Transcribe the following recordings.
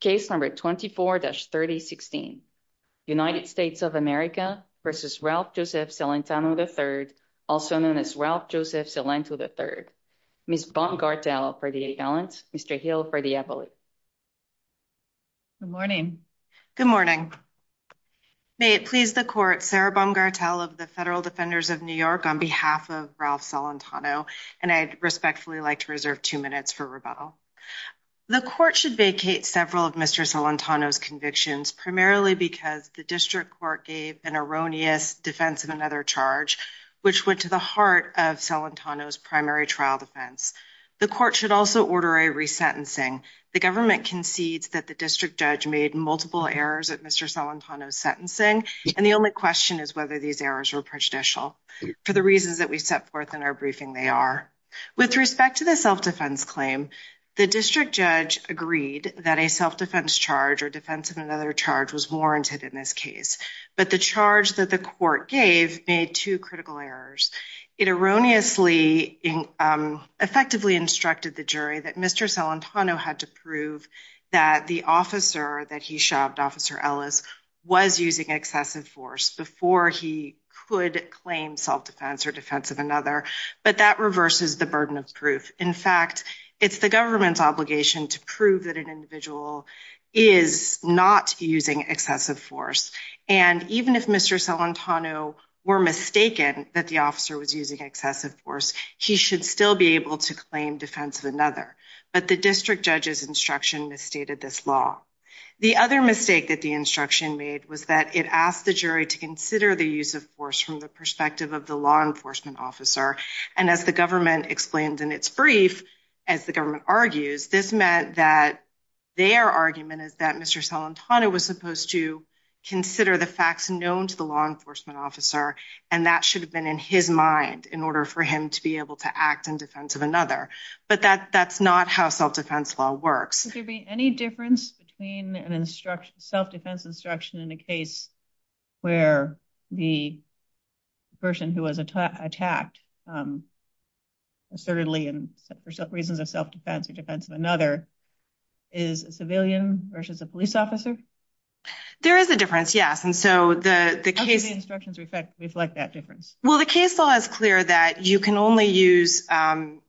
Case number 24-3016. United States of America v. Ralph Joseph Celentano, III, also known as Ralph Joseph Celento, III. Ms. Baumgartel for the appellant, Mr. Hill for the appellate. Good morning. Good morning. May it please the court, Sarah Baumgartel of the Federal Defenders of New York on behalf of Ralph Celentano, and I'd respectfully like to reserve two minutes for rebuttal. The court should vacate several of Mr. Celentano's convictions, primarily because the district court gave an erroneous defense of another charge, which went to the heart of Celentano's primary trial defense. The court should also order a resentencing. The government concedes that the district judge made multiple errors at Mr. Celentano's sentencing, and the only question is whether these errors were prejudicial. For the reasons that we set forth in our briefing, they are. With respect to the self-defense claim, the district judge agreed that a self-defense charge or defense of another charge was warranted in this case, but the charge that the court gave made two critical errors. It erroneously, effectively instructed the jury that Mr. Celentano had to prove that the officer that he shoved, Officer Ellis, was using excessive force before he could claim self-defense or defense of another, but that reverses the burden of proof. In fact, it's the government's obligation to prove that an individual is not using excessive force, and even if Mr. Celentano were mistaken that the officer was using excessive force, he should still be able to claim defense of another, but the district judge's instruction misstated this law. The other mistake that the instruction made was that it asked the jury to consider the use of force from the perspective of the law enforcement officer, and as the government explained in its brief, as the government argues, this meant that their argument is that Mr. Celentano was supposed to consider the facts known to the law enforcement officer, and that should have been in his mind in order for him to be able to act in defense of another, but that that's not how self-defense law works. Would there be any difference between an instruction, self-defense instruction, in a case where the person who was attacked assertedly and for reasons of self-defense or defense of another is a civilian versus a police officer? There is a difference, yes, and so the case instructions reflect that difference. Well, the case law is clear that you can only use, the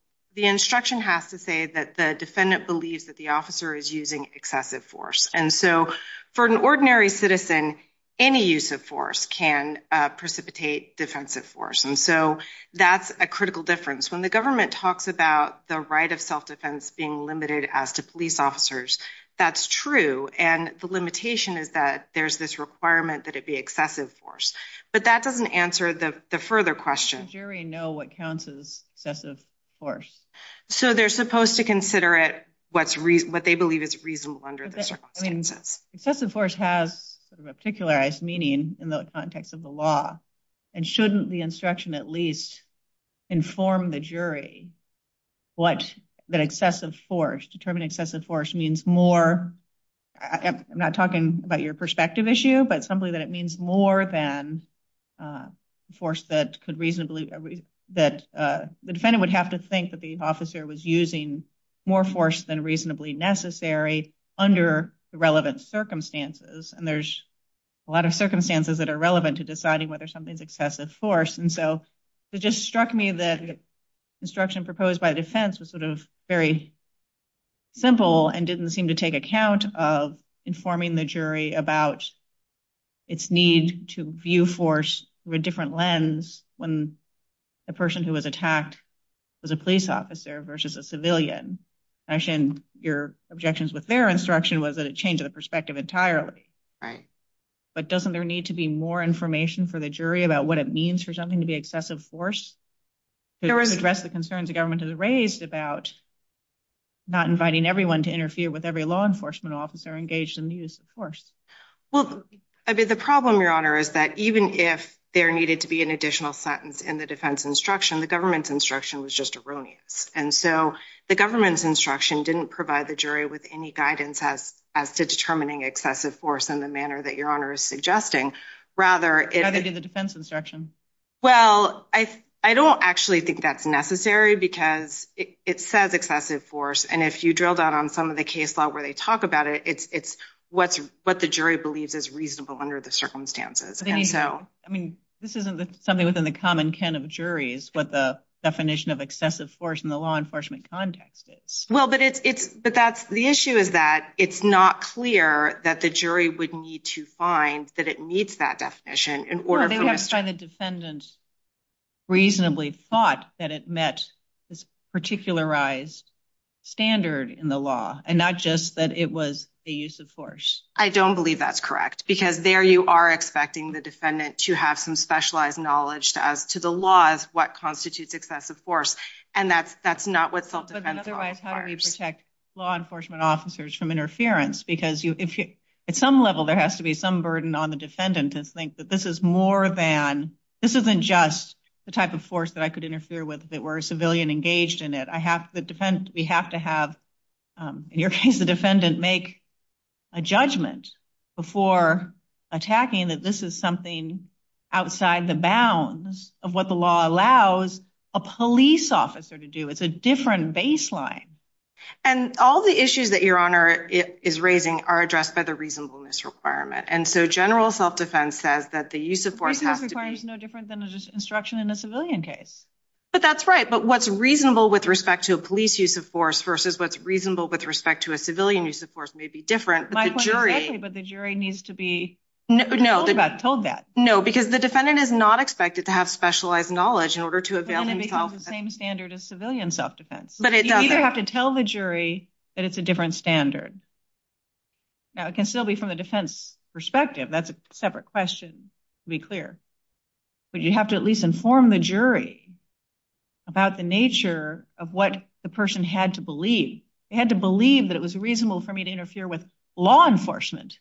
instruction has to say that the defendant believes that the officer is using excessive force, and so for an ordinary citizen, any use of force can precipitate defensive force, and so that's a critical difference. When the government talks about the right of self-defense being limited as to police officers, that's true, and the limitation is that there's this requirement that it be excessive force, but that doesn't answer the further question. Does the jury know what counts as excessive force? So they're supposed to consider it what they believe is reasonable under the circumstances. Excessive force has sort of a particularized meaning in the context of the law, and shouldn't the instruction at least inform the jury what that excessive force, determining excessive force, means more, I'm not talking about your perspective issue, but simply that it means more than a force that could reasonably, that the defendant would have to think that the officer was using more force than reasonably necessary under the relevant circumstances, and there's a lot of circumstances that are relevant to deciding whether something's excessive force, and so it just struck me that the instruction proposed by the defense was sort of very simple and didn't seem to take account of informing the jury about its need to view force through a different lens when the person who was attacked was a police officer versus a civilian. Actually, your objections with their instruction was that it changed the perspective entirely. Right. But doesn't there need to be more information for the jury about what it means for something to be excessive force to address the concerns the government has raised about not inviting everyone to interfere with every law enforcement officer engaged in the use of force? Well, I mean, the problem, your honor, is that even if there needed to be an additional sentence in the defense instruction, the government's instruction was just erroneous, and so the government's instruction didn't provide the jury with any guidance as to determining excessive force in the manner that your honor is suggesting. Rather, it did the defense instruction. Well, I don't actually think that's necessary because it says excessive force, and if you drilled out on some of the case law where they talk about it, it's what the jury believes is reasonable under the circumstances. I mean, this isn't something within the common ken of juries, what the definition of excessive force in the law enforcement context is. Well, but that's the issue is that it's not clear that the jury would need to find that it meets that definition in order. They have to find the defendant reasonably thought that it met this particularized standard in the law and not just that it was a use of force. I don't believe that's correct because there you are expecting the defendant to have some specialized knowledge as to the laws what constitutes excessive force, and that's not what self-defense requires. Otherwise, how do we protect law enforcement officers from interference? Because at some level, there has to be some burden on the defendant to think that this isn't just the type of force that I could interfere with if it were a civilian engaged in it. We have to have, in your case, the defendant make a judgment before attacking that this is something outside the bounds of what the law allows a police officer to do. It's a different baseline. And all the issues that is raising are addressed by the reasonableness requirement. And so general self-defense says that the use of force is no different than instruction in a civilian case. But that's right. But what's reasonable with respect to a police use of force versus what's reasonable with respect to a civilian use of force may be different, but the jury needs to be told that. No, because the defendant is not expected to have specialized knowledge in order to avail himself the same standard as civilian self-defense. But it doesn't have to tell the jury that it's a standard. Now, it can still be from the defense perspective. That's a separate question, to be clear. But you have to at least inform the jury about the nature of what the person had to believe. They had to believe that it was reasonable for me to interfere with law enforcement,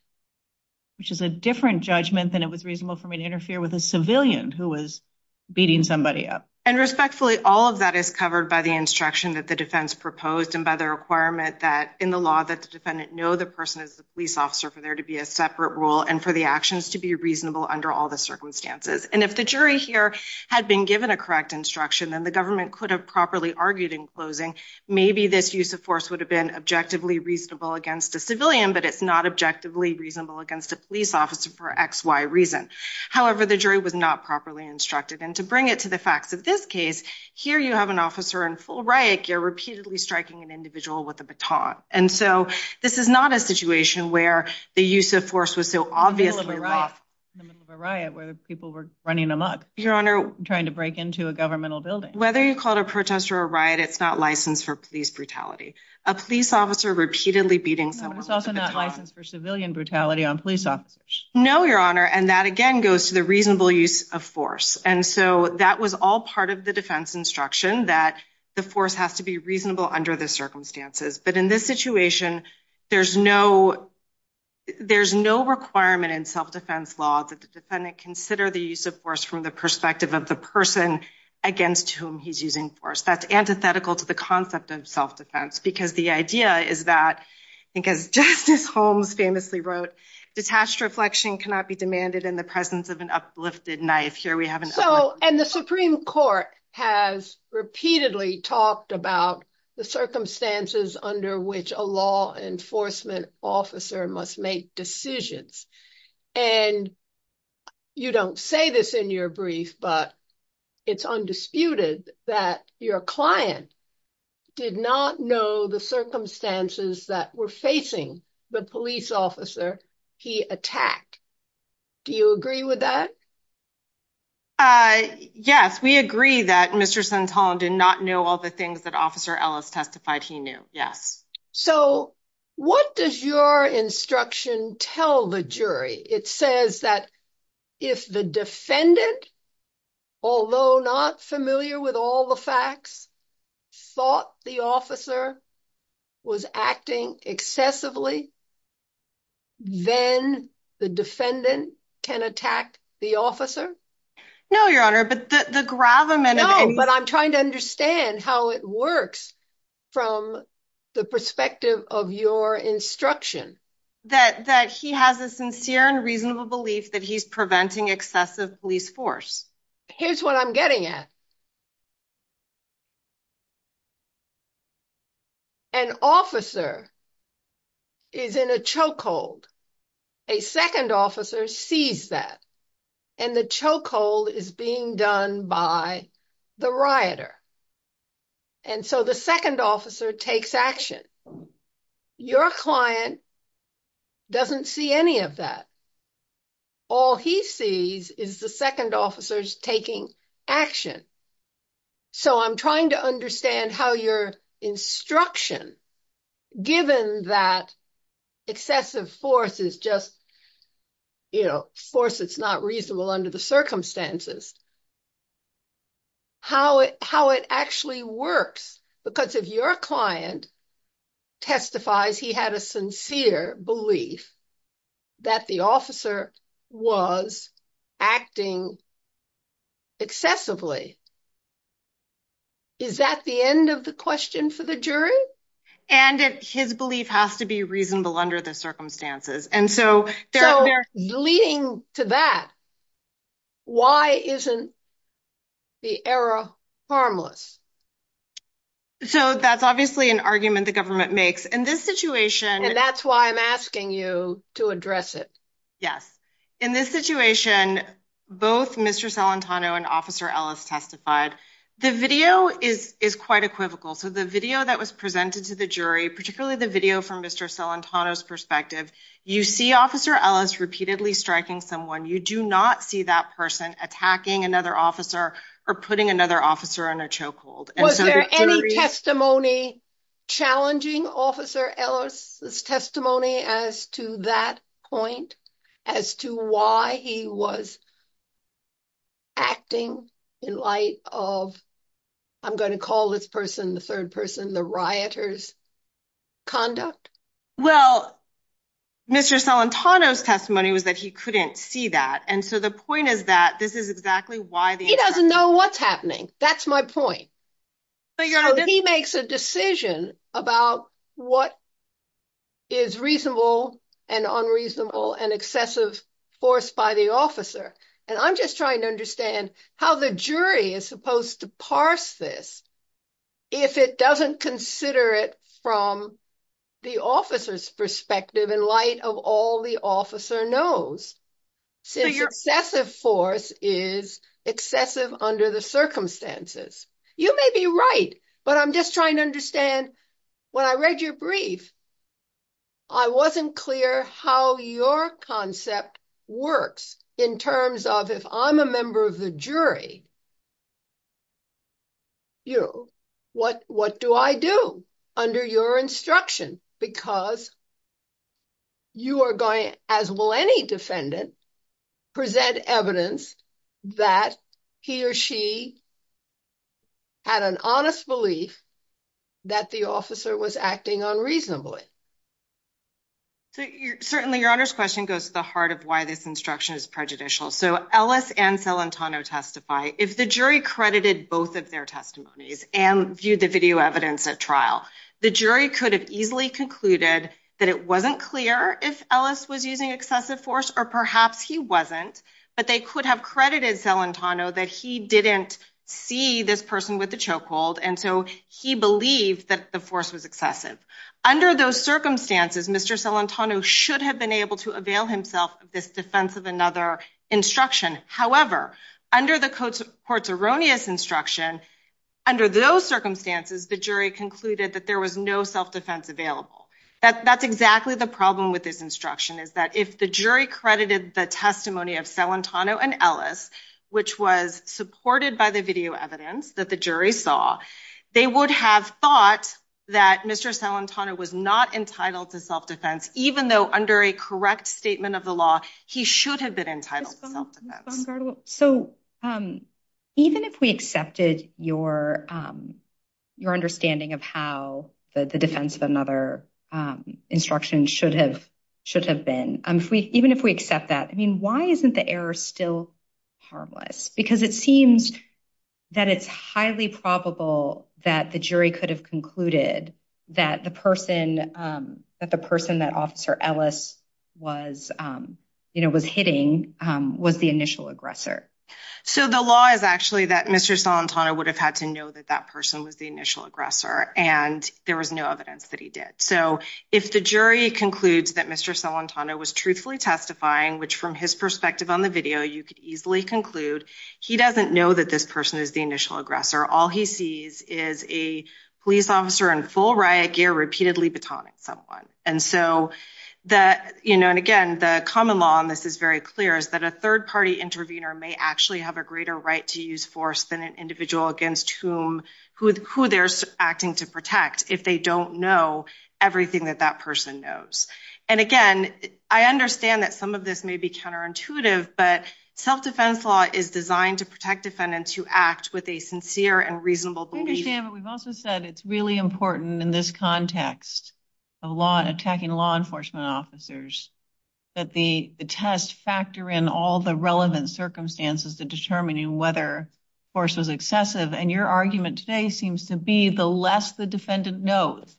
which is a different judgment than it was reasonable for me to interfere with a civilian who was beating somebody up. And respectfully, all of that is covered by the instruction that the defense proposed and by the requirement that in the law that the defendant know the person is the police officer for there to be a separate rule and for the actions to be reasonable under all the circumstances. And if the jury here had been given a correct instruction, then the government could have properly argued in closing, maybe this use of force would have been objectively reasonable against a civilian, but it's not objectively reasonable against a police officer for X, Y reason. However, the jury was not properly instructed. And to bring it to the facts of this case, here you have an officer in full, right? You're repeatedly striking an individual with a baton. And so this is not a situation where the use of force was so obviously rough in the middle of a riot where people were running amok, your honor, trying to break into a governmental building, whether you call it a protest or a riot, it's not licensed for police brutality. A police officer repeatedly beating someone is also not licensed for civilian brutality on police officers. No, your honor. And that again goes to the reasonable use of force. And so that was all part of the defense instruction that the force has to be reasonable under the circumstances. But in this situation, there's no requirement in self-defense law that the defendant consider the use of force from the perspective of the person against whom he's using force. That's antithetical to the concept of self-defense because the idea is that, I think as Justice Holmes famously wrote, detached reflection cannot be demanded in the presence of force. So, and the Supreme Court has repeatedly talked about the circumstances under which a law enforcement officer must make decisions. And you don't say this in your brief, but it's undisputed that your client did not know the circumstances that were facing the police officer he attacked. Do you agree with that? Yes, we agree that Mr. Santana did not know all the things that Officer Ellis testified he knew. Yes. So what does your instruction tell the jury? It says that if the defendant, although not familiar with all the facts, thought the officer was acting excessively, then the defendant can attack the officer? No, Your Honor, but the gravamen of- No, but I'm trying to understand how it works from the perspective of your instruction. That he has a sincere and reasonable belief that he's preventing excessive police force. Here's what I'm getting at. An officer is in a chokehold. A second officer sees that, and the chokehold is being done by the rioter. And so the second officer takes action. Your client doesn't see any of that. All he sees is the second officers taking action. So I'm trying to understand how your instruction, given that excessive force is just force that's not reasonable under the circumstances, how it actually works. Because if your client testifies he had a sincere belief that the officer was acting excessively, is that the end of the question for the jury? And his belief has to be reasonable under the circumstances. And so- Leading to that, why isn't the error harmless? So that's obviously an argument the government makes. In this situation- And that's why I'm asking you to address it. Yes. In this situation, both Mr. Salantano and Officer Ellis testified. The video is quite equivocal. So the video that was presented to the someone, you do not see that person attacking another officer or putting another officer in a chokehold. And so- Was there any testimony challenging Officer Ellis' testimony as to that point, as to why he was acting in light of, I'm going to call this person, the third person, the rioter's conduct? Well, Mr. Salantano's testimony was that he couldn't see that. And so the point is that this is exactly why the- He doesn't know what's happening, that's my point. So he makes a decision about what is reasonable and unreasonable and excessive force by the officer. And I'm just trying to understand how the jury is supposed to parse this if it doesn't consider it from the officer's perspective in light of all the officer knows, since excessive force is excessive under the circumstances. You may be right, but I'm just trying to understand, when I read your brief, I wasn't clear how your concept works in terms of, if I'm a member of the jury, what do I do under your instruction? Because you are going, as will any defendant, present evidence that he or she had an honest belief that the officer was acting unreasonably. So certainly, Your Honor's question goes to the heart of why this instruction is prejudicial. So Ellis and Salantano testify, if the jury credited both of their testimonies and viewed the video evidence at trial, the jury could have easily concluded that it wasn't clear if Ellis was using excessive force, or perhaps he wasn't, but they could have credited Salantano that he didn't see this person with the chokehold, and so he believed that the force was excessive. Under those circumstances, Mr. Salantano should have been able to avail himself of this defense of another instruction. However, under the court's erroneous instruction, under those circumstances, the jury concluded that there was no self-defense available. That's exactly the problem with this instruction, is that if the jury credited the testimony of Salantano and Ellis, which was supported by the video evidence that the jury saw, they would have thought that Mr. Salantano was not entitled to self-defense, even though under a correct statement of the law, he should have been entitled to self-defense. So even if we accepted your understanding of how the defense of another instruction should have been, even if we accept that, I mean, why isn't the error still harmless? Because it seems that it's highly probable that the jury could have concluded that the person that Officer Ellis was hitting was the initial aggressor. So the law is actually that Mr. Salantano would have had to know that that person was the initial aggressor, and there was no evidence that he did. So if the jury concludes that Mr. Salantano was truthfully testifying, which from his perspective on the video, you could easily conclude, he doesn't know that this person is the initial aggressor. All he sees is a police officer in full riot gear repeatedly batoning someone. And again, the common law on this is very clear, is that a third-party intervener may actually have a greater right to use force than an individual against whom, who they're acting to protect, if they don't know everything that that person knows. And again, I understand that some of this may be counterintuitive, but self-defense law is designed to protect defendants who act with a sincere and reasonable belief. I understand, but we've also said it's really important in this context, of law, attacking law enforcement officers, that the tests factor in all the relevant circumstances to determining whether force was excessive. And your argument today seems to be the less the defendant knows,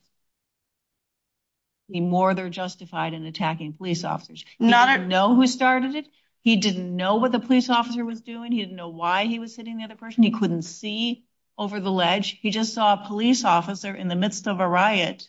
the more they're justified in attacking police officers. He didn't know who started it. He didn't know what the police officer was doing. He didn't know why he was hitting the other person. He couldn't see over the ledge. He just saw a police officer in the midst of a riot,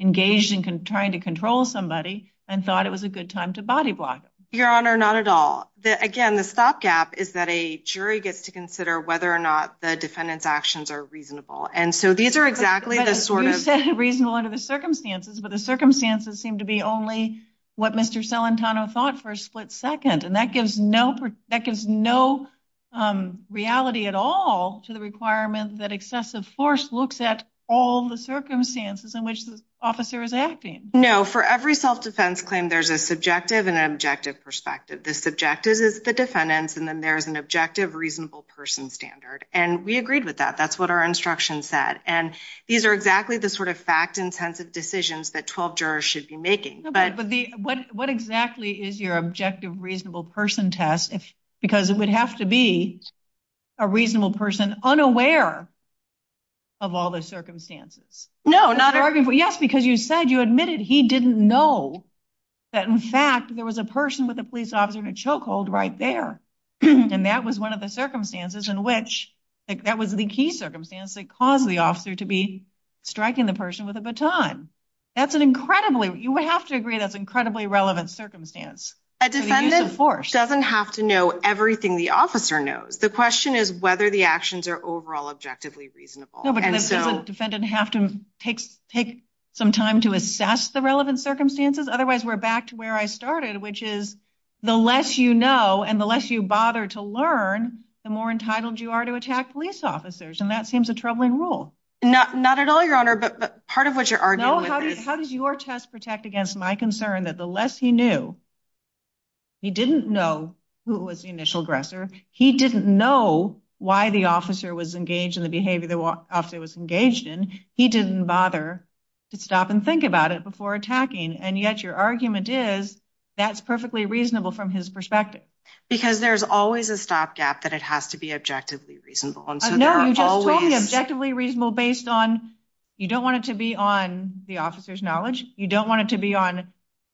engaged in trying to control somebody, and thought it was a good time to body block him. Your Honor, not at all. Again, the stopgap is that a jury gets to consider whether or not the defendant's actions are reasonable. And so these are exactly the sort of... reasonable under the circumstances, but the circumstances seem to be only what Mr. Celentano thought for a split second. And that gives no reality at all to the requirement that excessive force looks at all the circumstances in which the officer is acting. No. For every self-defense claim, there's a subjective and an objective perspective. The subjective is the defendant's, and then there's an objective reasonable person standard. And we agreed with that. That's what our instruction said. And these are exactly the fact-intensive decisions that 12 jurors should be making. What exactly is your objective reasonable person test? Because it would have to be a reasonable person unaware of all the circumstances. No, not... Yes, because you said, you admitted he didn't know that, in fact, there was a person with a police officer in a chokehold right there. And that was one of the circumstances in which... That was the key circumstance that caused the officer to be striking the person with a baton. That's an incredibly... You would have to agree that's an incredibly relevant circumstance. A defendant doesn't have to know everything the officer knows. The question is whether the actions are overall objectively reasonable. No, but does a defendant have to take some time to assess the relevant circumstances? Otherwise, we're back to where I started, which is the less you know and the less you bother to learn, the more entitled you are to attack police officers. And that seems a troubling rule. Not at all, Your Honor, but part of what you're arguing with is... How does your test protect against my concern that the less he knew, he didn't know who was the initial aggressor. He didn't know why the officer was engaged in the behavior the officer was engaged in. He didn't bother to stop and think about it before attacking. And yet your argument is that's perfectly reasonable from his perspective. Because there's always a stopgap that it has to be objectively reasonable. And so there are always... No, you just told me objectively reasonable based on... You don't want it to be on the officer's knowledge. You don't want it to be on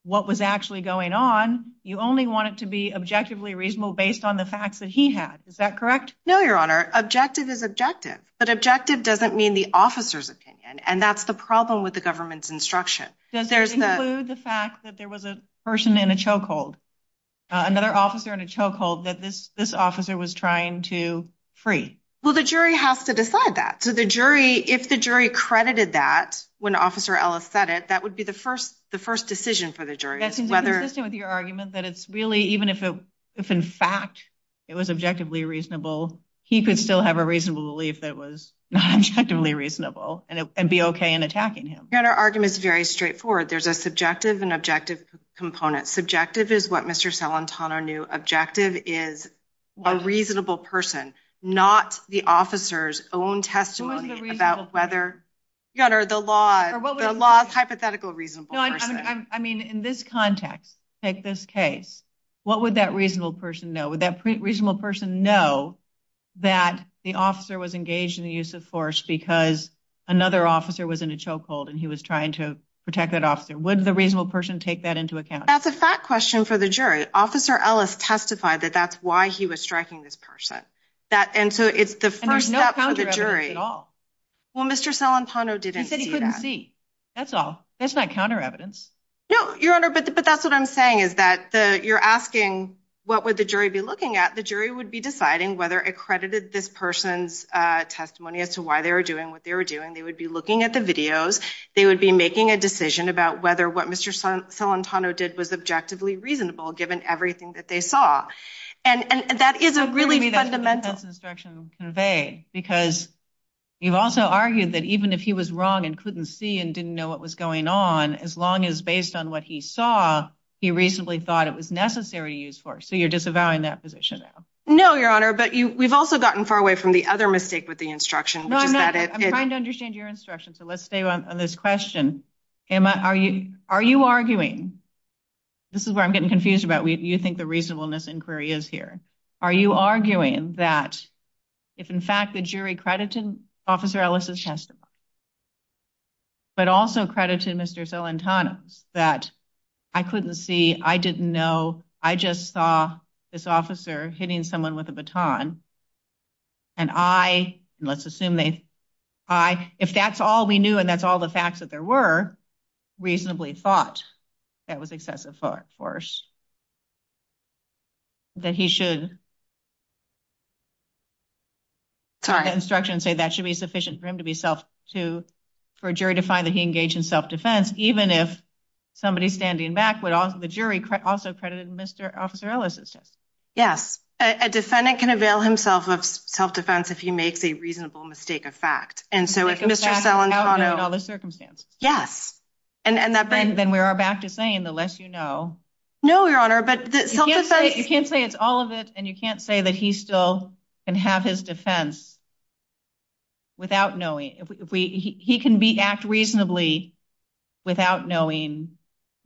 what was actually going on. You only want it to be objectively reasonable based on the facts that he had. Is that correct? No, Your Honor. Objective is objective, but objective doesn't mean the officer's opinion. And that's the problem with the government's instruction. Does it include the fact that there was a person in a chokehold, another officer in a chokehold that this officer was trying to free? Well, the jury has to decide that. So the jury, if the jury credited that when Officer Ellis said it, that would be the first decision for the jury. That seems inconsistent with your argument that it's really... Even if in fact it was objectively reasonable, he could still have a reasonable belief that it was not objectively reasonable and be okay in attacking him. Your Honor, argument is very straightforward. There's a subjective and objective component. Subjective is what Mr. Salentano knew. Objective is a reasonable person, not the officer's own testimony about whether, Your Honor, the law's hypothetical reasonable person. I mean, in this context, take this case, what would that reasonable person know? Would that reasonable person know that the officer was engaged in the use of force because another officer was in a chokehold and he was trying to protect that officer? Would the reasonable person take that into account? That's a fact question for the jury. Officer Ellis testified that that's why he was striking this person. And so it's the first step for the jury. Well, Mr. Salentano didn't see that. He said he couldn't see. That's all. That's not counter evidence. No, Your Honor, but that's what I'm saying is that you're asking, what would the jury be looking at? The jury would be deciding whether accredited this person's testimony as to why they were doing what they were doing. They would be looking at the videos. They would be making a decision about whether what Mr. Salentano did was objectively reasonable, given everything that they saw. And that is a really fundamental instruction conveyed because you've also argued that even if he was wrong and couldn't see and didn't know what was going on, as long as based on what he saw, he reasonably thought it was necessary to use force. So you're disavowing that position now. No, Your Honor, but we've also gotten far away from the other mistake with the instruction, which is that it... I'm trying to understand your instruction. So let's stay on this question. Emma, are you arguing, this is where I'm getting confused about, you think the reasonableness inquiry is here. Are you arguing that if, in fact, the jury credited Officer Ellis' testimony, but also credited Mr. Salentano's, that I couldn't see, I didn't know, I just saw this officer hitting someone with a baton. And I, let's assume they, I, if that's all we knew, and that's all the facts that there were, reasonably thought that was excessive force. That he should... Sorry. ...instruction say that should be sufficient for him to be self to, for a jury to find that he engaged in self-defense, even if somebody standing back would also, the jury also credited Mr. Officer Ellis' testimony. Yes. A defendant can avail himself of self-defense if he makes a reasonable mistake of fact. And so if Mr. Salentano... ...in all the circumstances. Yes. And that bring... Then we are back to saying the less you know. No, Your Honor, but the self-defense... You can't say it's all of it. And you can't say that he still can have his defense without knowing. He can be act reasonably without knowing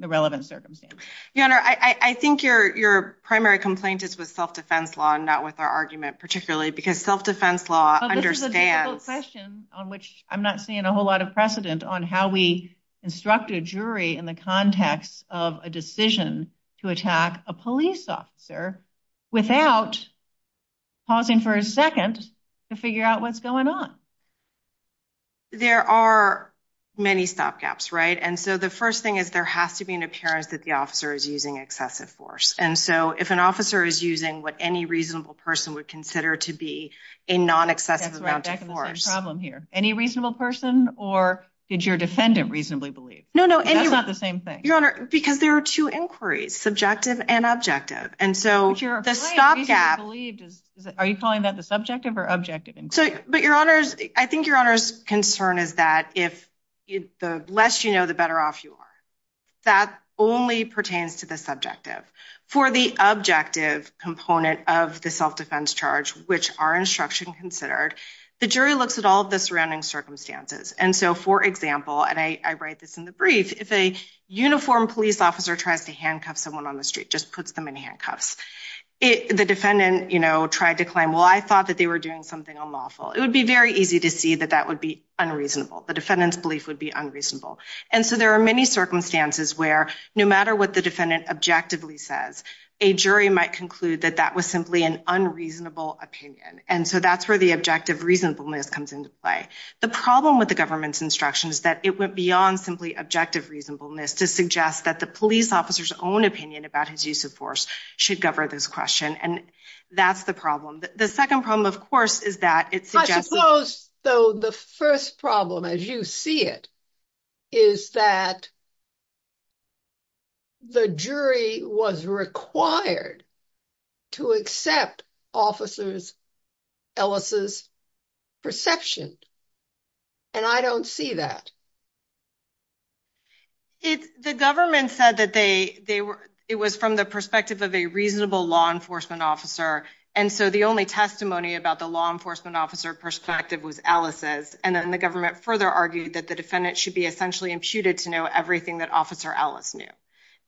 the relevant circumstances. Your Honor, I think your primary complaint is with self-defense law and not with our argument particularly, because self-defense law understands... But this is a difficult question on which I'm not seeing a whole lot of precedent on how we instruct a jury in the context of a decision to attack a police officer without pausing for a second to figure out what's going on. There are many stopgaps, right? And so the first thing is there has to be an excessive force. And so if an officer is using what any reasonable person would consider to be a non-excessive amount of force... That's right. Back to the same problem here. Any reasonable person or did your defendant reasonably believe? That's not the same thing. Your Honor, because there are two inquiries, subjective and objective. And so the stopgap... Are you calling that the subjective or objective inquiry? But Your Honor, I think Your Honor's concern is that the less you know, the better off you are. That only pertains to the subjective. For the objective component of the self-defense charge, which our instruction considered, the jury looks at all of the surrounding circumstances. And so, for example, and I write this in the brief, if a uniformed police officer tries to handcuff someone on the street, just puts them in handcuffs, the defendant tried to claim, well, I thought that they were doing something unlawful. It would be very easy to see that that would be unreasonable. The defendant's belief would be unreasonable. And so there are many circumstances where no matter what the defendant objectively says, a jury might conclude that that was simply an unreasonable opinion. And so that's where the objective reasonableness comes into play. The problem with the government's instruction is that it went beyond simply objective reasonableness to suggest that the police officer's own opinion about his use of force should govern this question. And that's the problem. The second problem, of course, is that it suggests... is that the jury was required to accept officers Ellis's perception. And I don't see that. The government said that it was from the perspective of a reasonable law enforcement officer. And so the only testimony about the law enforcement officer perspective was Ellis's. And then the government further argued that the defendant should be essentially imputed to know everything that officer Ellis knew.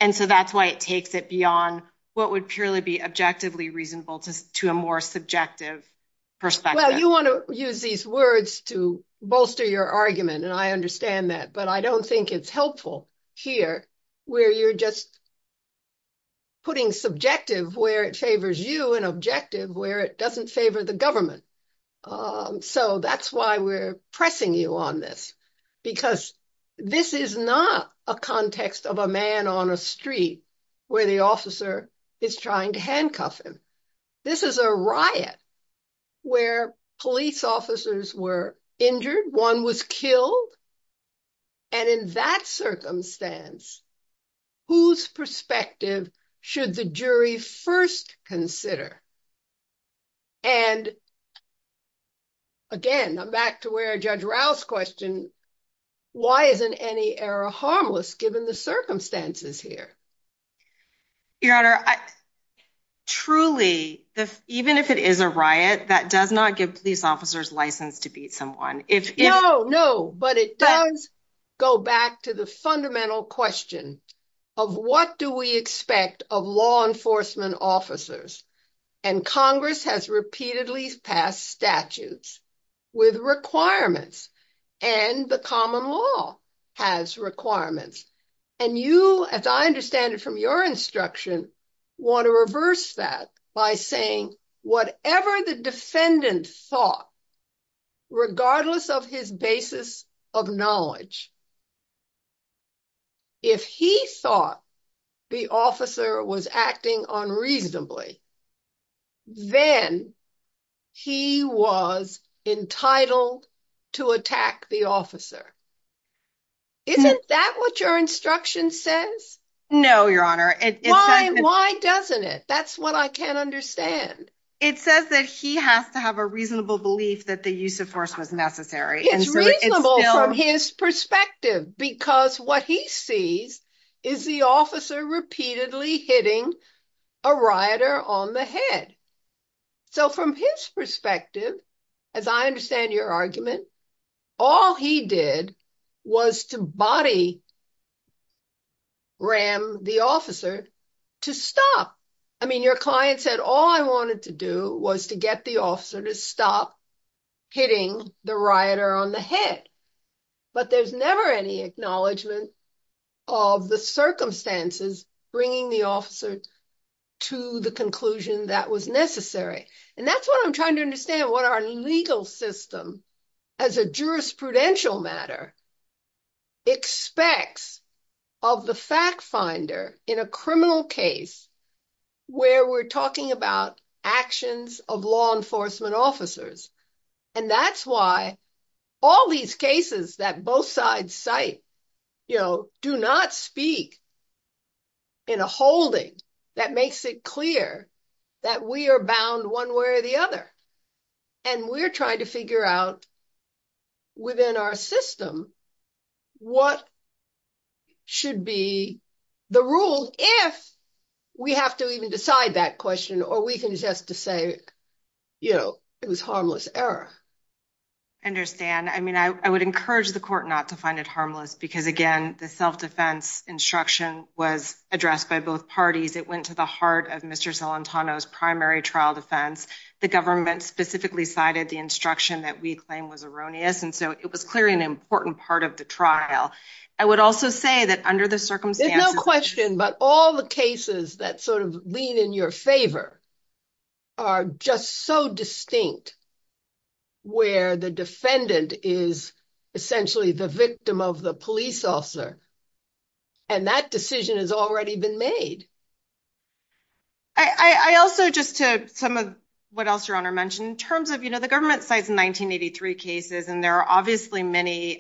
And so that's why it takes it beyond what would purely be objectively reasonable to a more subjective perspective. Well, you want to use these words to bolster your argument. And I understand that. But I don't think it's helpful here where you're just putting subjective where it favors you and objective where it doesn't favor the government. So that's why we're pressing you on this. Because this is not a context of a man on a street where the officer is trying to handcuff him. This is a riot where police officers were injured, one was killed. And in that circumstance, whose perspective should the jury first consider? And again, I'm back to where Judge Rouse question, why isn't any error harmless given the circumstances here? Your Honor, truly, even if it is a riot, that does not give police officers license to beat someone. No, no. But it does go back to the fundamental question of what do we expect of law enforcement officers? And Congress has repeatedly passed statutes with requirements, and the common law has requirements. And you, as I understand it from your instruction, want to reverse that by saying, whatever the defendant thought, regardless of his basis of knowledge, if he thought the officer was acting unreasonably, then he was entitled to attack the officer. Isn't that what your instruction says? No, Your Honor. Why doesn't it? That's what I can't understand. It says that he has to have a reasonable belief that the use of force was because what he sees is the officer repeatedly hitting a rioter on the head. So from his perspective, as I understand your argument, all he did was to body ram the officer to stop. I mean, your client said, all I wanted to do was to get the officer to stop hitting the rioter on the head. But there's never any acknowledgement of the circumstances bringing the officer to the conclusion that was necessary. And that's what I'm trying to understand, what our legal system as a jurisprudential matter expects of the fact and that's why all these cases that both sides cite, you know, do not speak in a holding that makes it clear that we are bound one way or the other. And we're trying to figure out within our system, what should be the rule if we have to even decide that question, or we can just to say, you know, it was harmless error. Understand. I mean, I would encourage the court not to find it harmless because again, the self-defense instruction was addressed by both parties. It went to the heart of Mr. Celentano's primary trial defense. The government specifically cited the instruction that we claim was erroneous. And so it was clearly an important part of the trial. I would also say that under the circumstances. There's no question, but all the cases that sort of lean in your favor are just so distinct where the defendant is essentially the victim of the police officer. And that decision has already been made. I also just to some of what else your honor mentioned in terms of, you know, the government sites in 1983 cases, and there are obviously many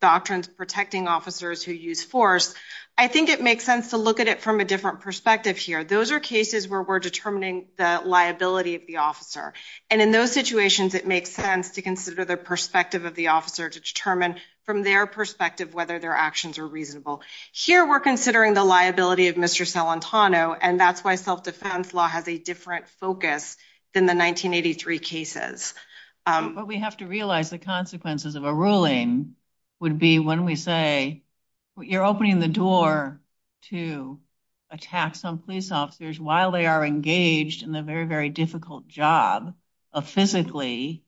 doctrines protecting officers who use force. I think it makes sense to look at it from a different perspective here. Those are cases where we're determining the liability of the officer. And in those situations, it makes sense to consider the perspective of the officer to determine from their perspective, whether their actions are reasonable here, we're considering the liability of Mr. Celentano. And that's why self-defense law has a different focus than the 1983 cases. But we have to realize the consequences of a ruling would be when we say you're opening the door to attack some police officers while they are engaged in the very, very difficult job of physically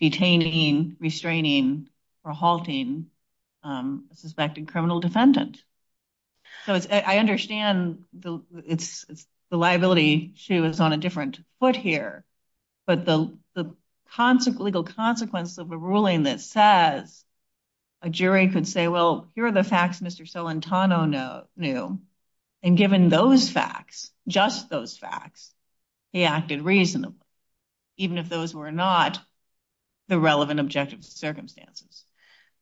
detaining, restraining, or halting a suspected criminal defendant. So I understand the liability issue is on a different foot here, but the legal consequence of a ruling that says a jury could say, well, here are the facts Mr. Celentano knew. And given those facts, just those facts, he acted reasonably, even if those were not the relevant objective circumstances.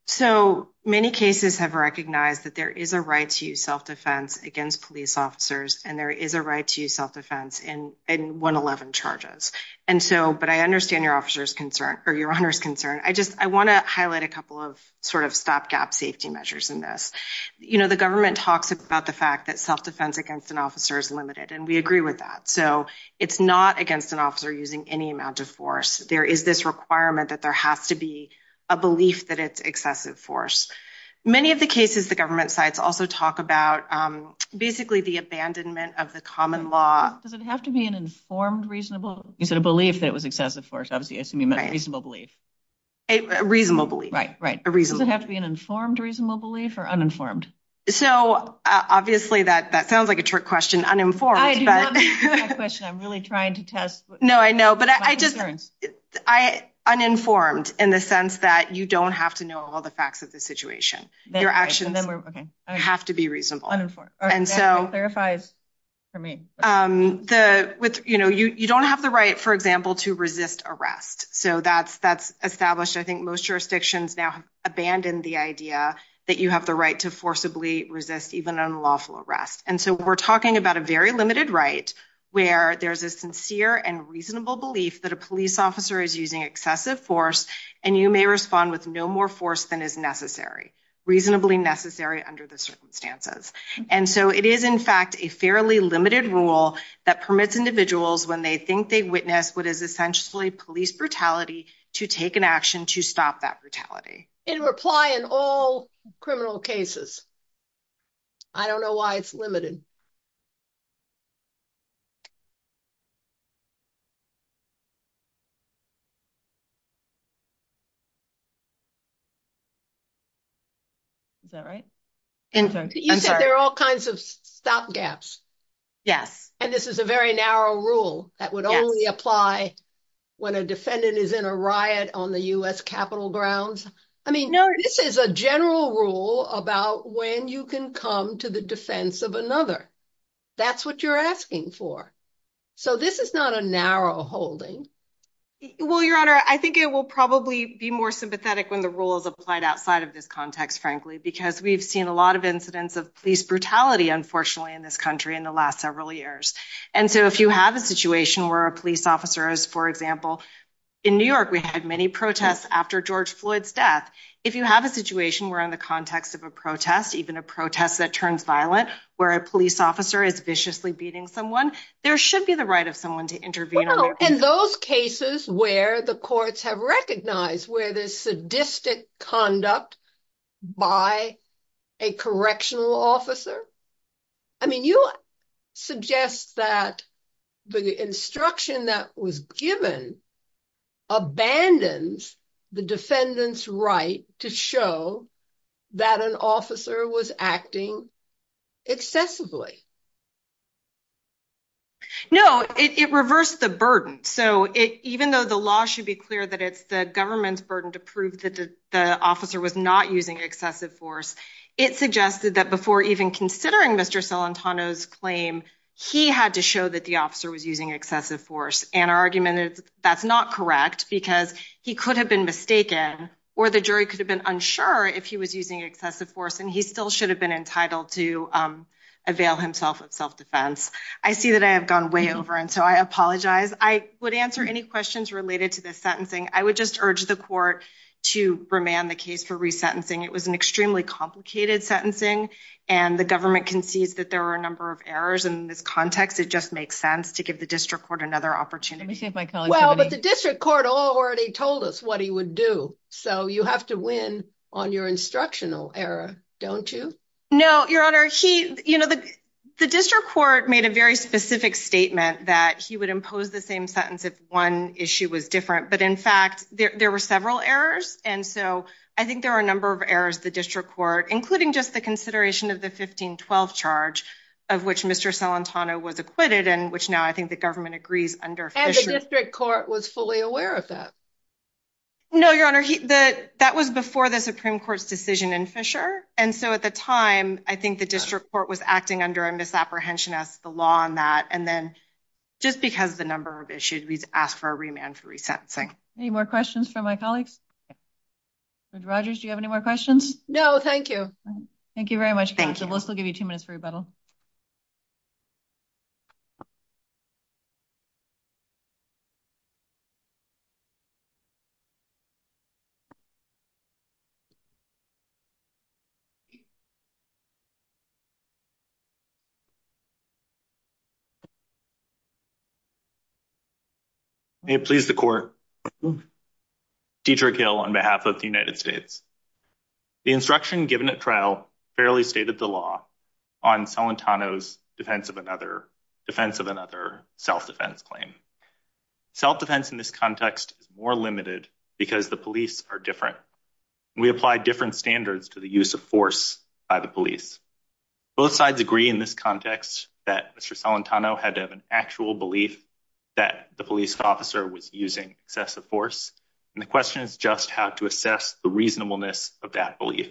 So many cases have recognized that there is a right to use self-defense against police officers and there is a right to use self-defense in 111 charges. And so, but I understand your officer's concern or your honor's concern. I just, I want to highlight a couple of sort of stop gap safety measures in this. You know, the government talks about the fact that self-defense against an officer is limited and we agree with that. So it's not against an officer using any amount of force. There is this requirement that there has to be a belief that it's excessive force. Many of the cases, the government sites also talk about basically the abandonment of the common law. Does it have to be an informed, reasonable, you said a belief that it was excessive force. Obviously I assume you meant a reasonable belief. A reasonable belief. Right, right. Does it have to be an informed reasonable belief or uninformed? So obviously that sounds like a trick question. Uninformed. I do love that question. I'm really trying to test. No, I know. But I just, uninformed in the sense that you don't have to know all the facts of the situation. Your actions have to be reasonable. Uninformed. That clarifies for me. You don't have the right, for example, to resist arrest. So that's established. I think most jurisdictions now have abandoned the idea that you have the right to forcibly resist even unlawful arrest. And so we're talking about a very limited right where there's a sincere and reasonable belief that a police officer is using excessive force and you may respond with no more force than is necessary. Reasonably necessary under the circumstances. And so it is in fact a fairly limited rule that permits individuals when they think they've witnessed what is essentially police brutality to take an action to stop that brutality. It will apply in all criminal cases. I don't know why it's limited. Is that right? You said there are all kinds of stop gaps. Yes. And this is a very narrow rule that would only apply when a defendant is in a riot on the U.S. Capitol grounds. I mean, this is a general rule about when you can come to the defense of another. That's what you're asking for. So this is not a narrow holding. Well, Your Honor, I think it will probably be more sympathetic when the rule is applied outside of this context, frankly, because we've seen a lot of incidents of police brutality, unfortunately, in this country in the last several years. And so if you have a situation where a police officer is, for example, in New York, we had many protests after George Floyd's death. If you have a situation where in the context of a protest, even a protest that turns violent, where a police officer is viciously beating someone, there should be the right of someone to intervene. Well, in those cases where the courts have recognized where there's sadistic conduct by a correctional officer, I mean, you suggest that the instruction that was given abandons the defendant's right to show that an officer was acting excessively. No, it reversed the burden. So even though the law should be clear that it's the government's to prove that the officer was not using excessive force, it suggested that before even considering Mr. Celentano's claim, he had to show that the officer was using excessive force. And our argument is that's not correct because he could have been mistaken or the jury could have been unsure if he was using excessive force and he still should have been entitled to avail himself of self-defense. I see that I have gone way over and so I apologize. I would answer any questions related to this sentencing. I would just urge the court to remand the case for resentencing. It was an extremely complicated sentencing and the government concedes that there are a number of errors in this context. It just makes sense to give the district court another opportunity. Well, but the district court already told us what he would do. So you have to win on your instructional error, don't you? No, Your Honor. The district court made a very specific statement that he would impose the same sentence if one issue was different, but in fact there were several errors and so I think there are a number of errors the district court, including just the consideration of the 1512 charge of which Mr. Celentano was acquitted and which now I think the government agrees under Fisher. And the district court was fully aware of that? No, Your Honor. That was before the Supreme Court's decision in Fisher and so at the time I think the district court was acting under a misapprehension as the law on that and then just because the number of issues we asked for a remand for resentencing. Any more questions from my colleagues? Judge Rogers, do you have any more questions? No, thank you. Thank you very much counsel. We'll still give you two minutes for rebuttal. May it please the court. Dietrich Hill on behalf of the United States. The instruction given at trial fairly stated the law on Celentano's defense of another, defense of another self-defense claim. Self-defense in this context is more limited because the police are different. We apply different standards to the use of force by the police. Both sides agree in this context that Mr. Celentano has the actual belief that the police officer was using excessive force and the question is just how to assess the reasonableness of that belief.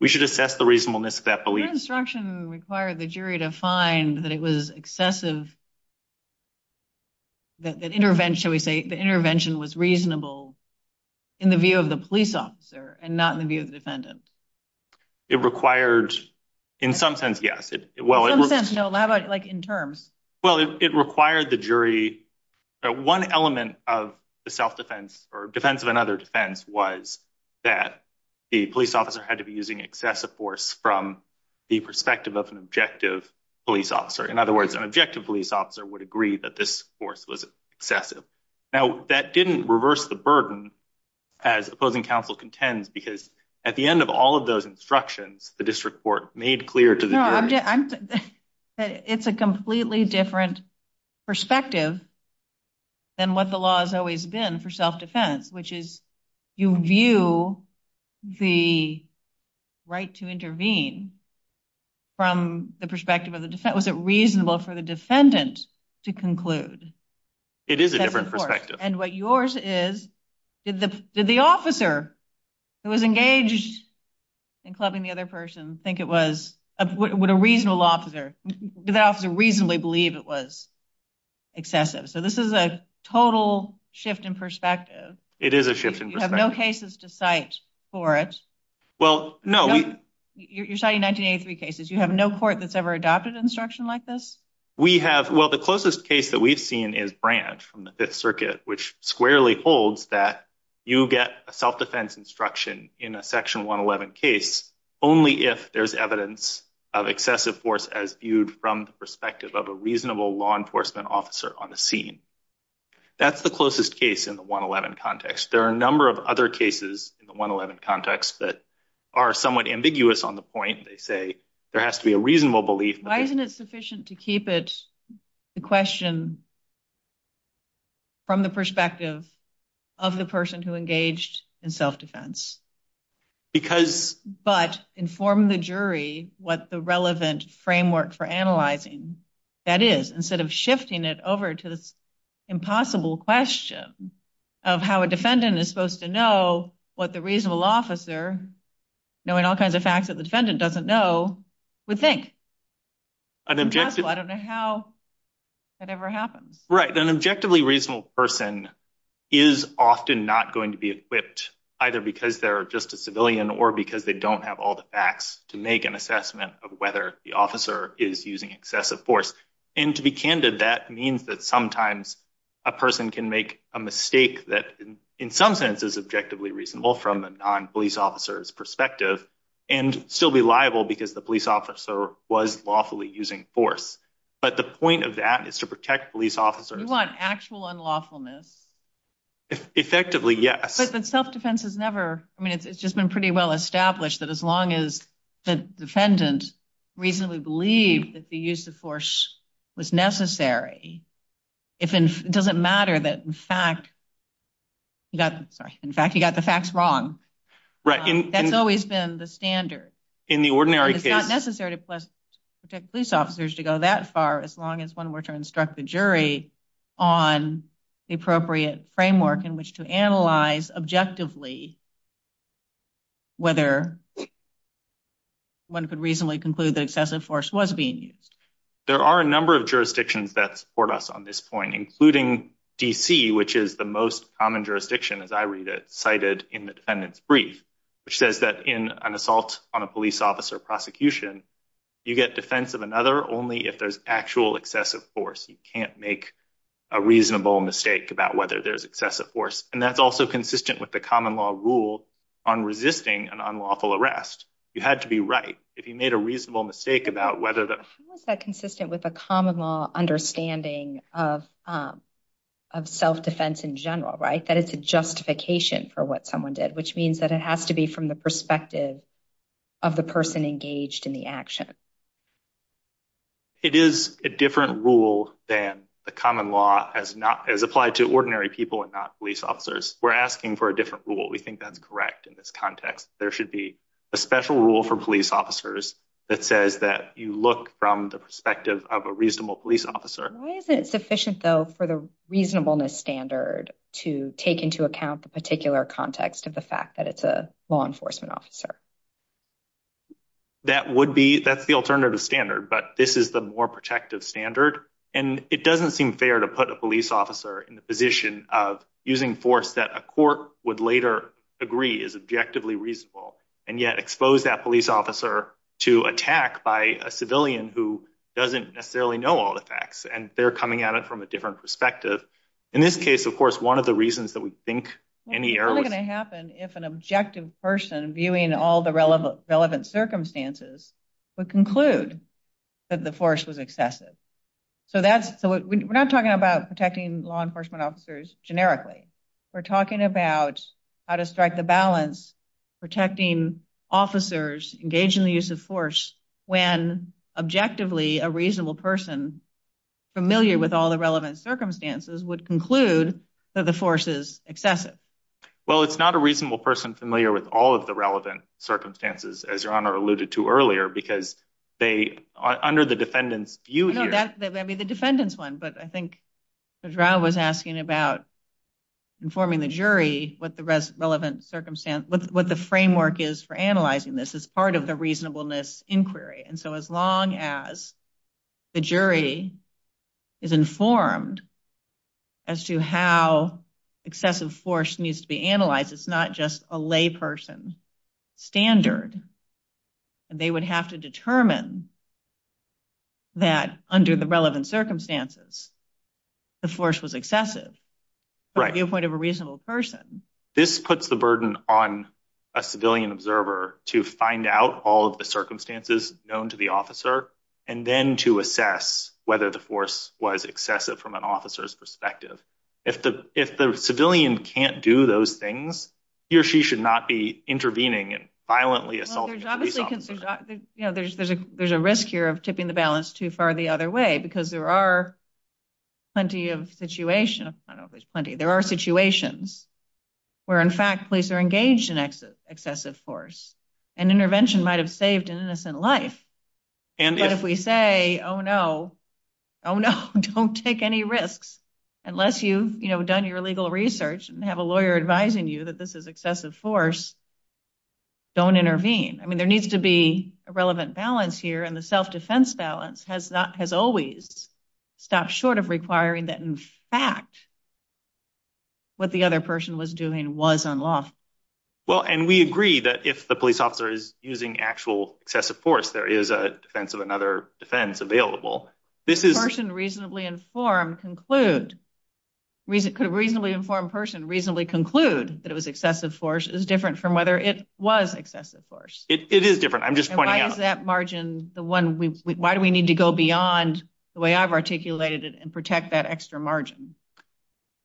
We should assess the reasonableness of that belief. Your instruction required the jury to find that it was excessive that intervention we say the intervention was reasonable in the view of the police officer and not in the view of the defendant. It required, in some sense, yes. Well, in terms. Well, it required the jury. One element of the self-defense or defense of another defense was that the police officer had to be using excessive force from the perspective of an objective police officer. In other words, an objective police officer would agree that this force was excessive. Now that didn't reverse the as opposing counsel contends because at the end of all of those instructions, the district court made clear to the jury. It's a completely different perspective than what the law has always been for self-defense, which is you view the right to intervene from the perspective of the defense. Was it reasonable for the defendant to conclude? It is a different perspective. And what yours is, did the officer who was engaged in clubbing the other person think it was, would a reasonable officer, did the officer reasonably believe it was excessive? So this is a total shift in perspective. It is a shift in perspective. You have no cases to cite for it. Well, no. You're citing 1983 cases. You have no court that's ever adopted instruction like this? We have. Well, the closest case that we've seen is branch from the fifth circuit, which squarely holds that you get a self-defense instruction in a section 111 case only if there's evidence of excessive force as viewed from the perspective of a reasonable law enforcement officer on the scene. That's the closest case in the 111 context. There are a number of other cases in the 111 context that are somewhat ambiguous on the point. They say there has to be a reasonable belief. Why isn't it sufficient to keep it, the question, from the perspective of the person who engaged in self-defense? But inform the jury what the relevant framework for analyzing that is, instead of shifting it over to this impossible question of how a defendant is supposed to know what the reasonable officer, knowing all kinds of facts that the defendant doesn't know, would think. I don't know how that ever happens. Right. An objectively reasonable person is often not going to be equipped either because they're just a civilian or because they don't have all the facts to make an assessment of whether the officer is using excessive force. And to be candid, that means that sometimes a person can make a mistake that in some sense is objectively reasonable from a non-police officer's perspective and still be liable because the police officer was lawfully using force. But the point of that is to protect police officers. You want actual unlawfulness? Effectively, yes. But self-defense has never, I mean, it's just been pretty well established that as long as the defendant reasonably believed that the use of force was necessary, it doesn't matter that in fact, you got, sorry, in fact, you got the facts wrong. Right. That's always been the standard. In the ordinary case. It's not necessary to protect police officers to go that far, as long as one were to instruct the jury on the appropriate framework in which to analyze objectively whether one could reasonably conclude that excessive force was being used. There are a number of jurisdictions that support us on this point, including DC, which is the most common jurisdiction, as I read it, cited in the defendant's brief, which says that in an assault on a police officer prosecution, you get defense of another only if there's actual excessive force. You can't make a reasonable mistake about whether there's excessive force. And that's also consistent with the common law rule on resisting an unlawful arrest. You had to be right. If you made a reasonable mistake about whether that was that consistent with a common law understanding of self-defense in general, right? That it's a justification for what someone did, which means that it has to be from the perspective of the person engaged in the action. It is a different rule than the common law as not as applied to ordinary people and not police officers. We're asking for a different rule. We think that's correct in this context. There should be a special rule for police officers that says that you look from the perspective of a reasonable police officer. Why isn't it sufficient, though, for the reasonableness standard to take into account the particular context of the fact that it's a law enforcement officer? That's the alternative standard, but this is the more protective standard. And it doesn't seem fair to put a police officer in the position of using force that a court would later agree is objectively reasonable and yet expose that police officer to attack by a civilian who doesn't necessarily know all the facts and they're coming at it from a different perspective. In this case, of course, one of the reasons that we think any error is going to happen if an objective person viewing all the relevant circumstances would conclude that the force was excessive. So we're not talking about protecting law enforcement officers generically. We're talking about how to strike the balance protecting officers engaged in the use of force when objectively a reasonable person familiar with all the relevant circumstances would conclude that the force is excessive. Well, it's not a reasonable person familiar with all of the relevant circumstances, as Your Honor alluded to earlier, because under the defendant's view here... No, that may be the defendant's one, but I think the trial was asking about informing the jury what the framework is for analyzing this as part of the reasonableness inquiry. And so as long as the jury is informed as to how excessive force needs to be analyzed, it's not just a layperson standard. They would have to determine that under the relevant circumstances, the force was excessive from the viewpoint of a reasonable person. This puts the burden on a civilian observer to find out all of the circumstances known to the officer and then to assess whether the force was excessive from an officer's perspective. If the civilian can't do those things, he or she should not be intervening and violently assaulting a police officer. There's a risk here of tipping the balance too far the other way, because there are plenty of situations where, in fact, police are engaged in excessive force and intervention might have saved an innocent life. But if we say, oh no, don't take any risks, unless you've done your legal research and have a lawyer advising you that this is excessive force, don't intervene. I mean, there needs to be a relevant balance here and the self-defense balance has always stopped short of requiring that, in fact, what the other person was doing was unlawful. Well, and we agree that if the police officer is using actual excessive force, there is a defense of another defense available. Could a reasonably informed person reasonably conclude that it was excessive force is different from whether it was excessive force? It is different. I'm just pointing out. The one, why do we need to go beyond the way I've articulated it and protect that extra margin?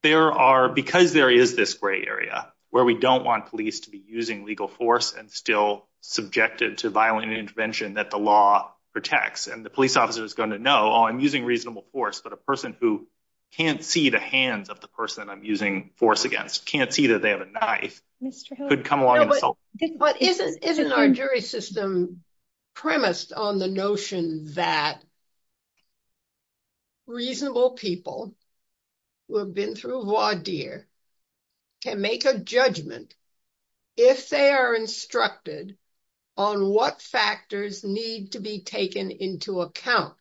There are, because there is this gray area where we don't want police to be using legal force and still subjected to violent intervention that the law protects. And the police officer is going to know, oh, I'm using reasonable force, but a person who can't see the hands of the person I'm using force against, can't see that they have a knife could come along and assault. But isn't our jury system premised on the notion that reasonable people who have been through voir dire can make a judgment if they are instructed on what factors need to be taken into account.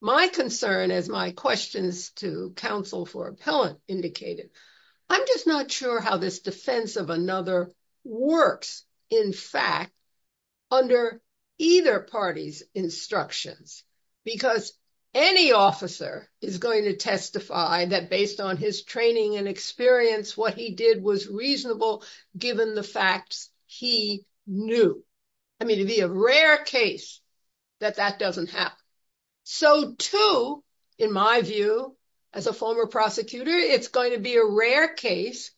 My concern, as my questions to counsel for appellant indicated, I'm just not sure how this defense of another works, in fact, under either party's instructions. Because any officer is going to testify that based on his training and experience, what he did was reasonable given the facts he knew. I mean, it'd be a rare case that that doesn't happen. So too, in my view, as a former prosecutor, it's going to be a rare case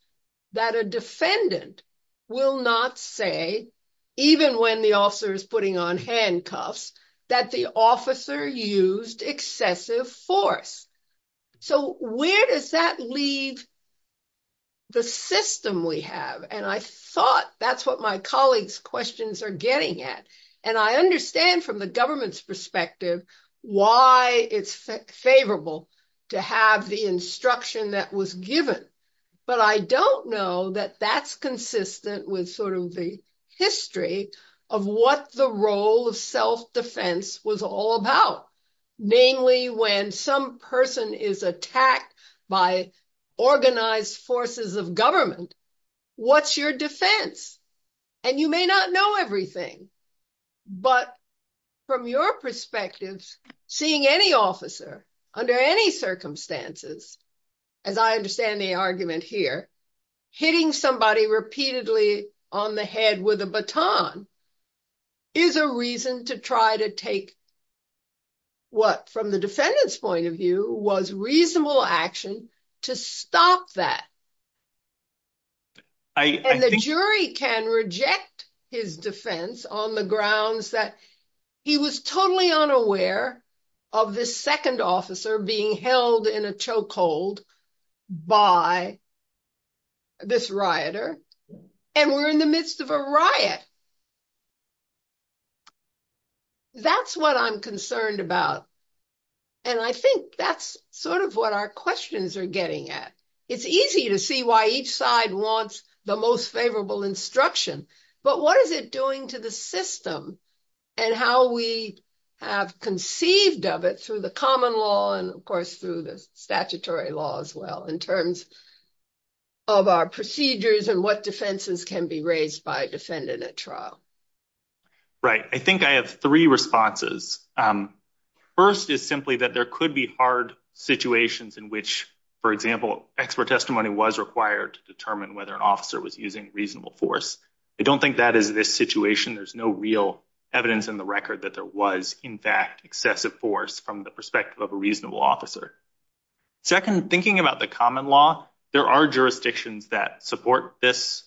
that a defendant will not say, even when the officer is putting on handcuffs, that the officer used excessive force. So where does that leave the system we have? And I thought that's what my colleagues' questions are getting at. And I understand from the government's perspective, why it's favorable to have the instruction that was given. But I don't know that that's consistent with sort of the history of what the role of self-defense was all about. Namely, when some person is attacked by organized forces of government, what's your defense? And you may not know everything. But from your perspective, seeing any officer under any circumstances, as I understand the argument here, hitting somebody repeatedly on the head with a baton is a reason to try to take what, from the defendant's point of view, was reasonable action to stop that. And the jury can reject his defense on the grounds that he was totally unaware of this second officer being held in a chokehold by this rioter, and we're in the midst of a riot. That's what I'm concerned about. And I think that's sort of what our questions are getting at. It's easy to see why each side wants the most favorable instruction, but what is it doing to the system and how we have conceived of it through the common law, and of course, through the statutory law as well, in terms of our procedures and what defenses can be raised by a defendant. Right. I think I have three responses. First is simply that there could be hard situations in which, for example, expert testimony was required to determine whether an officer was using reasonable force. I don't think that is this situation. There's no real evidence in the record that there was, in fact, excessive force from the perspective of a reasonable officer. Second, thinking about the common law, there are jurisdictions that support this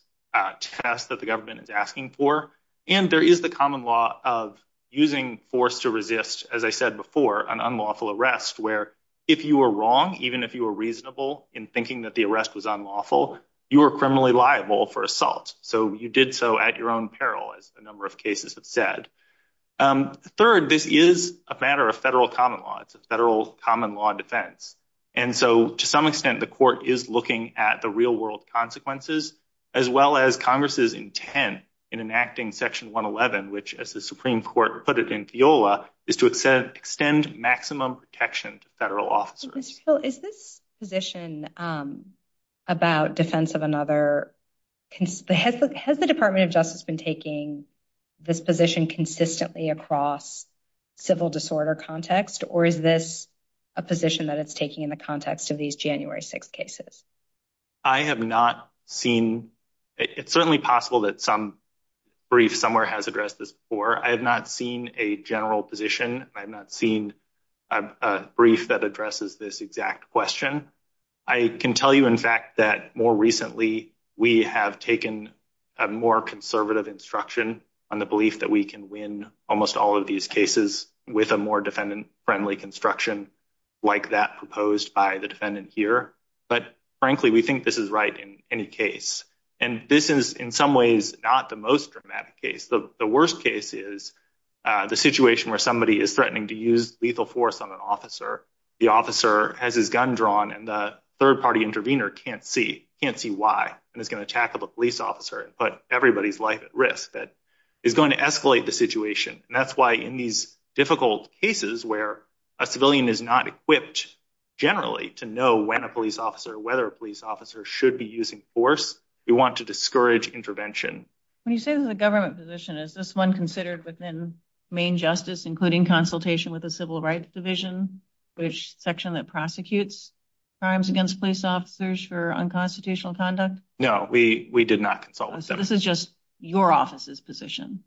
test that the government is asking for, and there is the common law of using force to resist, as I said before, an unlawful arrest, where if you were wrong, even if you were reasonable in thinking that the arrest was unlawful, you were criminally liable for assault. So you did so at your own peril, as a number of cases have said. Third, this is a matter of federal common law. It's a federal common law defense. And so to some extent, the court is looking at the real consequences, as well as Congress's intent in enacting Section 111, which, as the Supreme Court put it in FIOLA, is to extend maximum protection to federal officers. Mr. Hill, is this position about defense of another... Has the Department of Justice been taking this position consistently across civil disorder context, or is this a position that it's taking in the context of these January 6th cases? I have not seen... It's certainly possible that some brief somewhere has addressed this before. I have not seen a general position. I have not seen a brief that addresses this exact question. I can tell you, in fact, that more recently, we have taken a more conservative instruction on the belief that we can win almost all of these cases with a more defendant-friendly construction like that proposed by the defendant here. But frankly, we think this is right in any case. And this is, in some ways, not the most dramatic case. The worst case is the situation where somebody is threatening to use lethal force on an officer. The officer has his gun drawn, and the third-party intervener can't see why, and is going to attack a police officer and put everybody's life at risk. That is going to escalate the situation. And that's why, in these difficult cases where a civilian is not equipped generally to know when a police officer, whether a police officer should be using force, we want to discourage intervention. When you say this is a government position, is this one considered within main justice, including consultation with the Civil Rights Division, which section that prosecutes crimes against police officers for unconstitutional conduct? No, we did not consult with them. So this is just your office's position?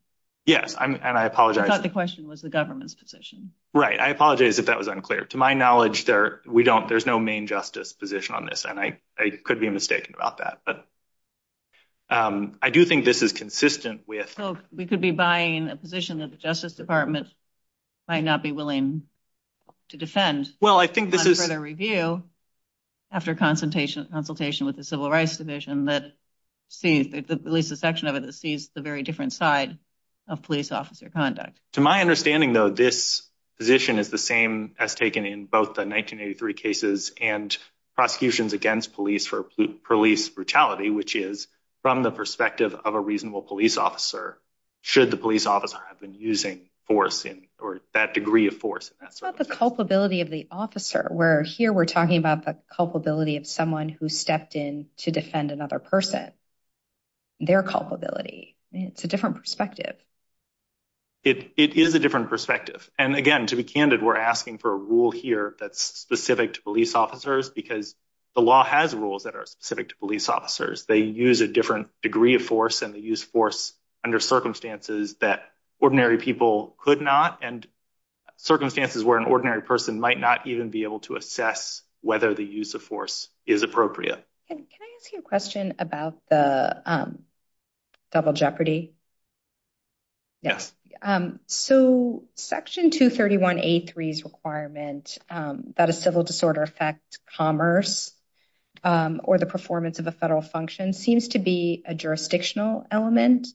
Yes, and I thought the question was the government's position. Right, I apologize if that was unclear. To my knowledge, we don't, there's no main justice position on this, and I could be mistaken about that. But I do think this is consistent with... So we could be buying a position that the Justice Department might not be willing to defend... Well, I think this is... ...for further review after consultation with the Civil Rights Division that sees, at least a section of it, sees the very different side of police officer conduct. To my understanding, though, this position is the same as taken in both the 1983 cases and prosecutions against police for police brutality, which is from the perspective of a reasonable police officer, should the police officer have been using force, or that degree of force. That's about the culpability of the officer, where here we're talking about the culpability of someone who stepped in to defend another person, their culpability. It's a different perspective. It is a different perspective. And again, to be candid, we're asking for a rule here that's specific to police officers because the law has rules that are specific to police officers. They use a different degree of force, and they use force under circumstances that ordinary people could not, and circumstances where an ordinary person might not even be able to assess whether the use of force is appropriate. Can I ask you a question about the double jeopardy? Yes. So section 231A3's requirement that a civil disorder affect commerce or the performance of a federal function seems to be a jurisdictional element,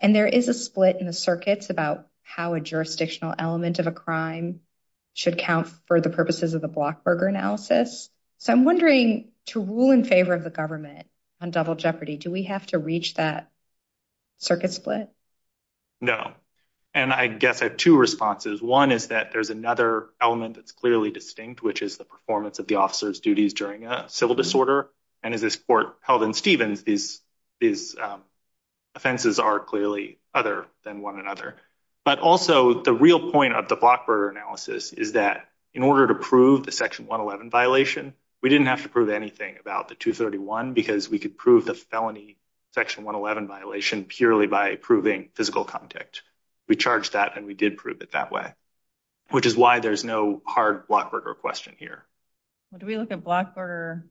and there is a split in the circuits about how a jurisdictional element of a crime should count for the purposes of the Blockburger analysis. So I'm wondering, to rule in favor of the government on double jeopardy, do we have to reach that circuit split? No. And I guess I have two responses. One is that there's another element that's clearly distinct, which is the performance of the officer's duties during a civil disorder. And as this court held in Stevens, these offenses are clearly other than one another. But also the real point of the Blockburger analysis is that in order to prove the section 111 violation, we didn't have to prove anything about the 231 because we could prove the felony section 111 violation purely by proving physical contact. We charged that, and we did prove it that way, which is why there's no hard Blockburger question here. Do we look at Blockburger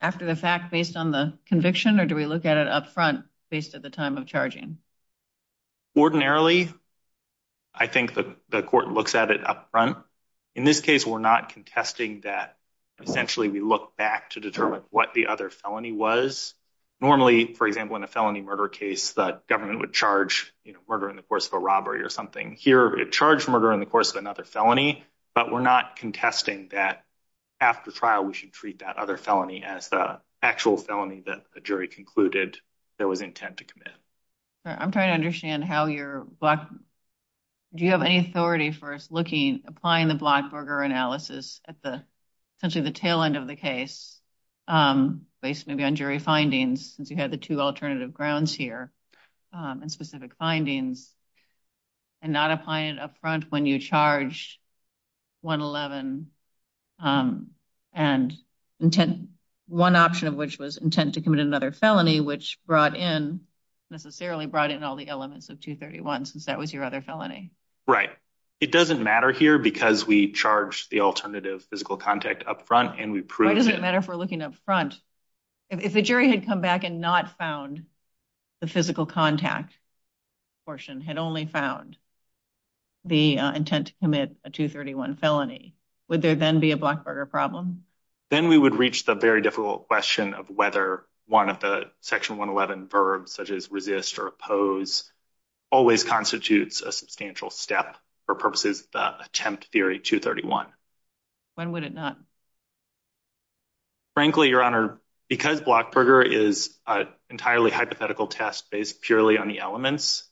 after the fact based on the conviction, or do we look at it up front based at the time of charging? Ordinarily, I think the court looks at it up front. In this case, we're not contesting that essentially we look back to determine what the other felony was. Normally, for example, in a felony murder case, the government would charge murder in the course of a robbery or something. Here, it charged murder in the course of another felony, but we're not contesting that after trial we should treat that other felony as the actual felony that the jury concluded there was intent to commit. I'm trying to understand how you're, do you have any authority for us looking, applying the Blockburger analysis at the essentially the tail end of the case, based maybe on jury findings, since you had the two alternative grounds here and specific findings, and not applying it up front when you charge 111 and intent, one option of which was intent to commit another felony, which brought in, necessarily brought in all the elements of 231 since that was your other felony. Right. It doesn't matter here because we charged the alternative physical contact up front and we proved it. Why does it matter if we're looking up front? If the jury had come back and not found the physical contact portion, had only found the intent to commit a 231 felony, would there then be a Blockburger problem? Then we would reach the very difficult question of whether one of the Section 111 verbs, such as resist or oppose, always constitutes a substantial step for purposes of the Attempt Theory 231. When would it not? Frankly, Your Honor, because Blockburger is an entirely hypothetical test based purely on the elements,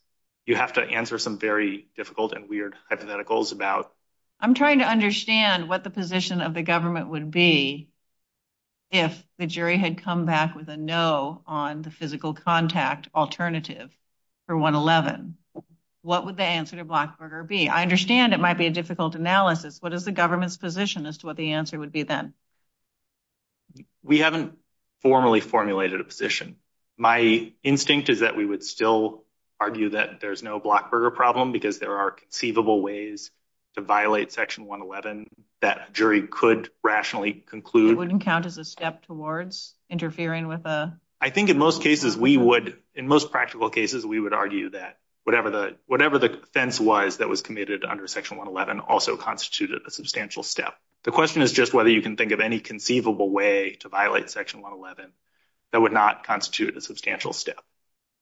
you have to answer some very difficult and weird hypotheticals about. I'm trying to understand what the position of the government would be if the jury had come back with a no on the physical contact alternative for 111. What would the answer to Blockburger be? I understand it might be a difficult analysis. What is the government's position as to what the answer would be then? We haven't formally formulated a position. My instinct is that we would still argue that there's no Blockburger problem because there are conceivable ways to violate Section 111 that a jury could rationally conclude. It wouldn't count as a step towards interfering with a... I think in most cases we would, in most practical cases, we would argue that whatever the offense was that was committed under Section 111 also constituted a substantial step. The question is just whether you can think of any conceivable way to violate Section 111 that would not constitute a substantial step,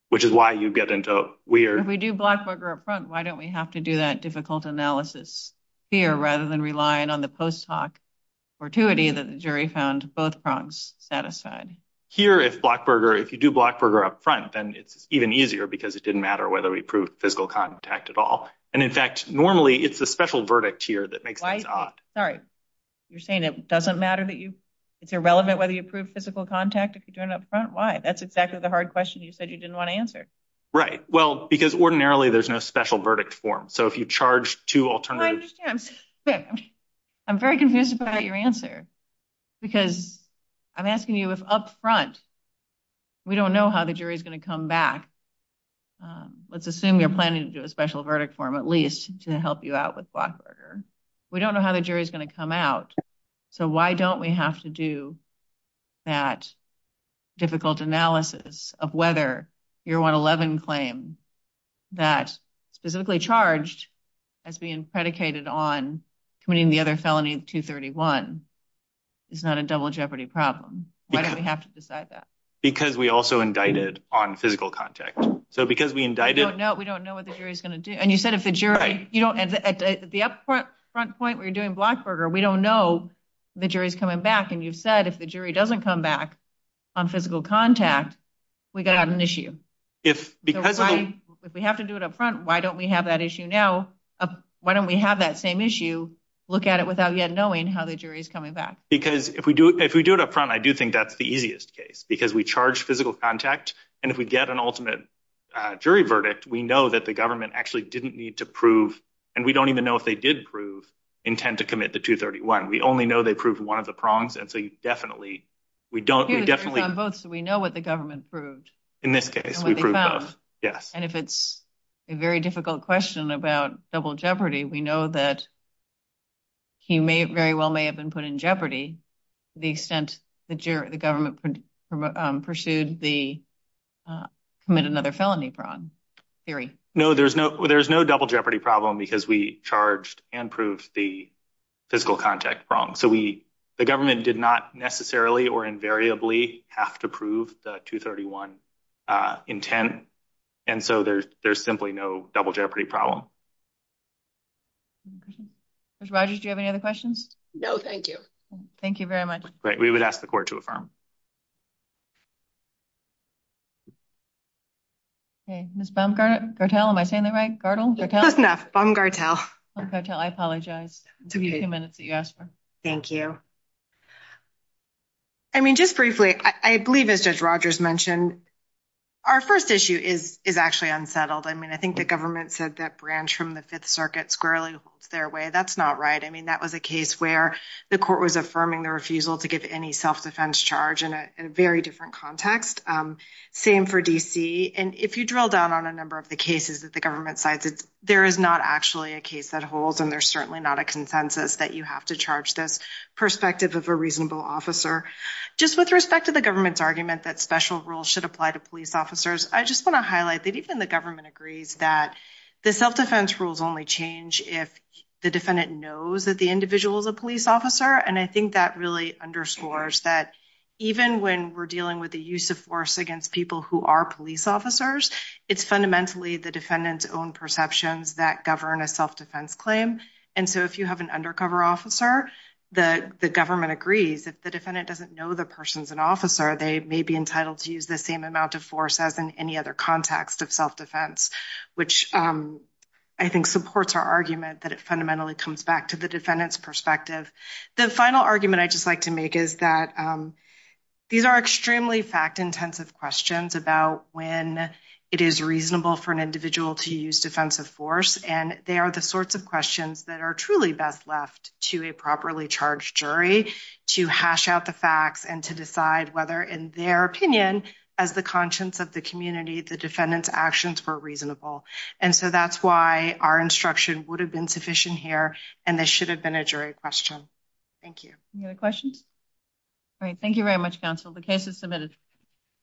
which is why you get into weird... If we do Blockburger up front, why don't we have to do that difficult analysis here rather than relying on the post hoc fortuity that the jury found both prongs satisfied? Here if Blockburger, if you do Blockburger up front, then it's even easier because it didn't matter whether we proved physical contact at all. And in fact, normally it's a special verdict here that makes things odd. Sorry, you're saying it doesn't matter that you... It's irrelevant whether you prove physical contact if you're doing it up front? Why? That's exactly the hard question you said you didn't want to answer. Right. Well, because ordinarily there's no special verdict form. So if you charge two alternatives... I understand. I'm very confused about your answer because I'm asking you if up front we don't know how the jury is going to come back. Let's assume you're planning to do a special verdict form at least to help you out with Blockburger. We don't know how the jury is going to come out. So why don't we have to do that difficult analysis of whether your 111 claim that specifically charged as being predicated on committing the other felony 231 is not a double jeopardy problem? Why do we have to decide that? Because we also indicted on physical contact. So because we indicted... No, we don't know what the jury is going to do. And you said if the jury... The upfront point where you're doing Blockburger, we don't know the jury's coming back. And you've said if the jury doesn't come back on physical contact, we got an issue. If we have to do it up front, why don't we have that issue now? Why don't we have that same issue, look at it without yet knowing how the jury is coming back? Because if we do it up front, I do think that's the easiest case because we charge physical contact. And if we get an ultimate jury verdict, we know that the government actually didn't need to prove. And we don't even know if they did prove intent to commit the 231. We only know they proved one of the prongs. And so you definitely... We know what the government proved. In this case, we proved both. Yes. And if it's a very difficult question about double jeopardy, we know that he may very well may have been put in jeopardy to the extent the government pursued the commit another felony prong theory. No, there's no double jeopardy problem because we charged and proved the physical contact prong. So the government did not necessarily or invariably have to prove the 231 intent. And so there's simply no double jeopardy problem. Judge Rogers, do you have any other questions? No, thank you. Thank you very much. Great. We would ask the court to affirm. Okay. Ms. Baumgartel, am I saying that right? Gardel? That's enough. Baumgartel. Baumgartel, I apologize. It took me a few minutes that you asked for. Thank you. I mean, just briefly, I believe as Judge Rogers mentioned, our first issue is actually unsettled. I mean, I think the government said that branch from the Fifth Circuit squarely holds their way. That's not right. I mean, that was a case where the court was affirming the refusal to give any self-defense charge in a very different context. Same for D.C. And if you drill down on a number of the cases that the government cites, there is not actually a case that holds and there's certainly not a consensus that you have to charge this perspective of a reasonable officer. Just with respect to the government's argument that special rules should apply to police officers, I just want to highlight that even the government agrees that the self-defense rules only change if the defendant knows that the individual is a police officer. And I think that really underscores that even when we're dealing with the use of force against people who are police officers, it's fundamentally the defendant's own perceptions that govern a self-defense claim. And so if you have an undercover officer, the government agrees. If the defendant doesn't know the person's an officer, they may be entitled to use the same amount of force as in any other context of self-defense, which I think supports our argument that it fundamentally comes back to the defendant's perspective. The final argument I'd just like to make is that these are extremely fact-intensive questions about when it is reasonable for an individual to use defensive force. And they are the sorts of questions that are truly best left to a properly charged jury to hash out the facts and to decide whether, in their opinion, as the conscience of the community, the defendant's actions were reasonable. And so that's why our instruction would have been sufficient here, and this should have been a jury question. Thank you. Any other questions? All right. Thank you very much, counsel. The case is submitted.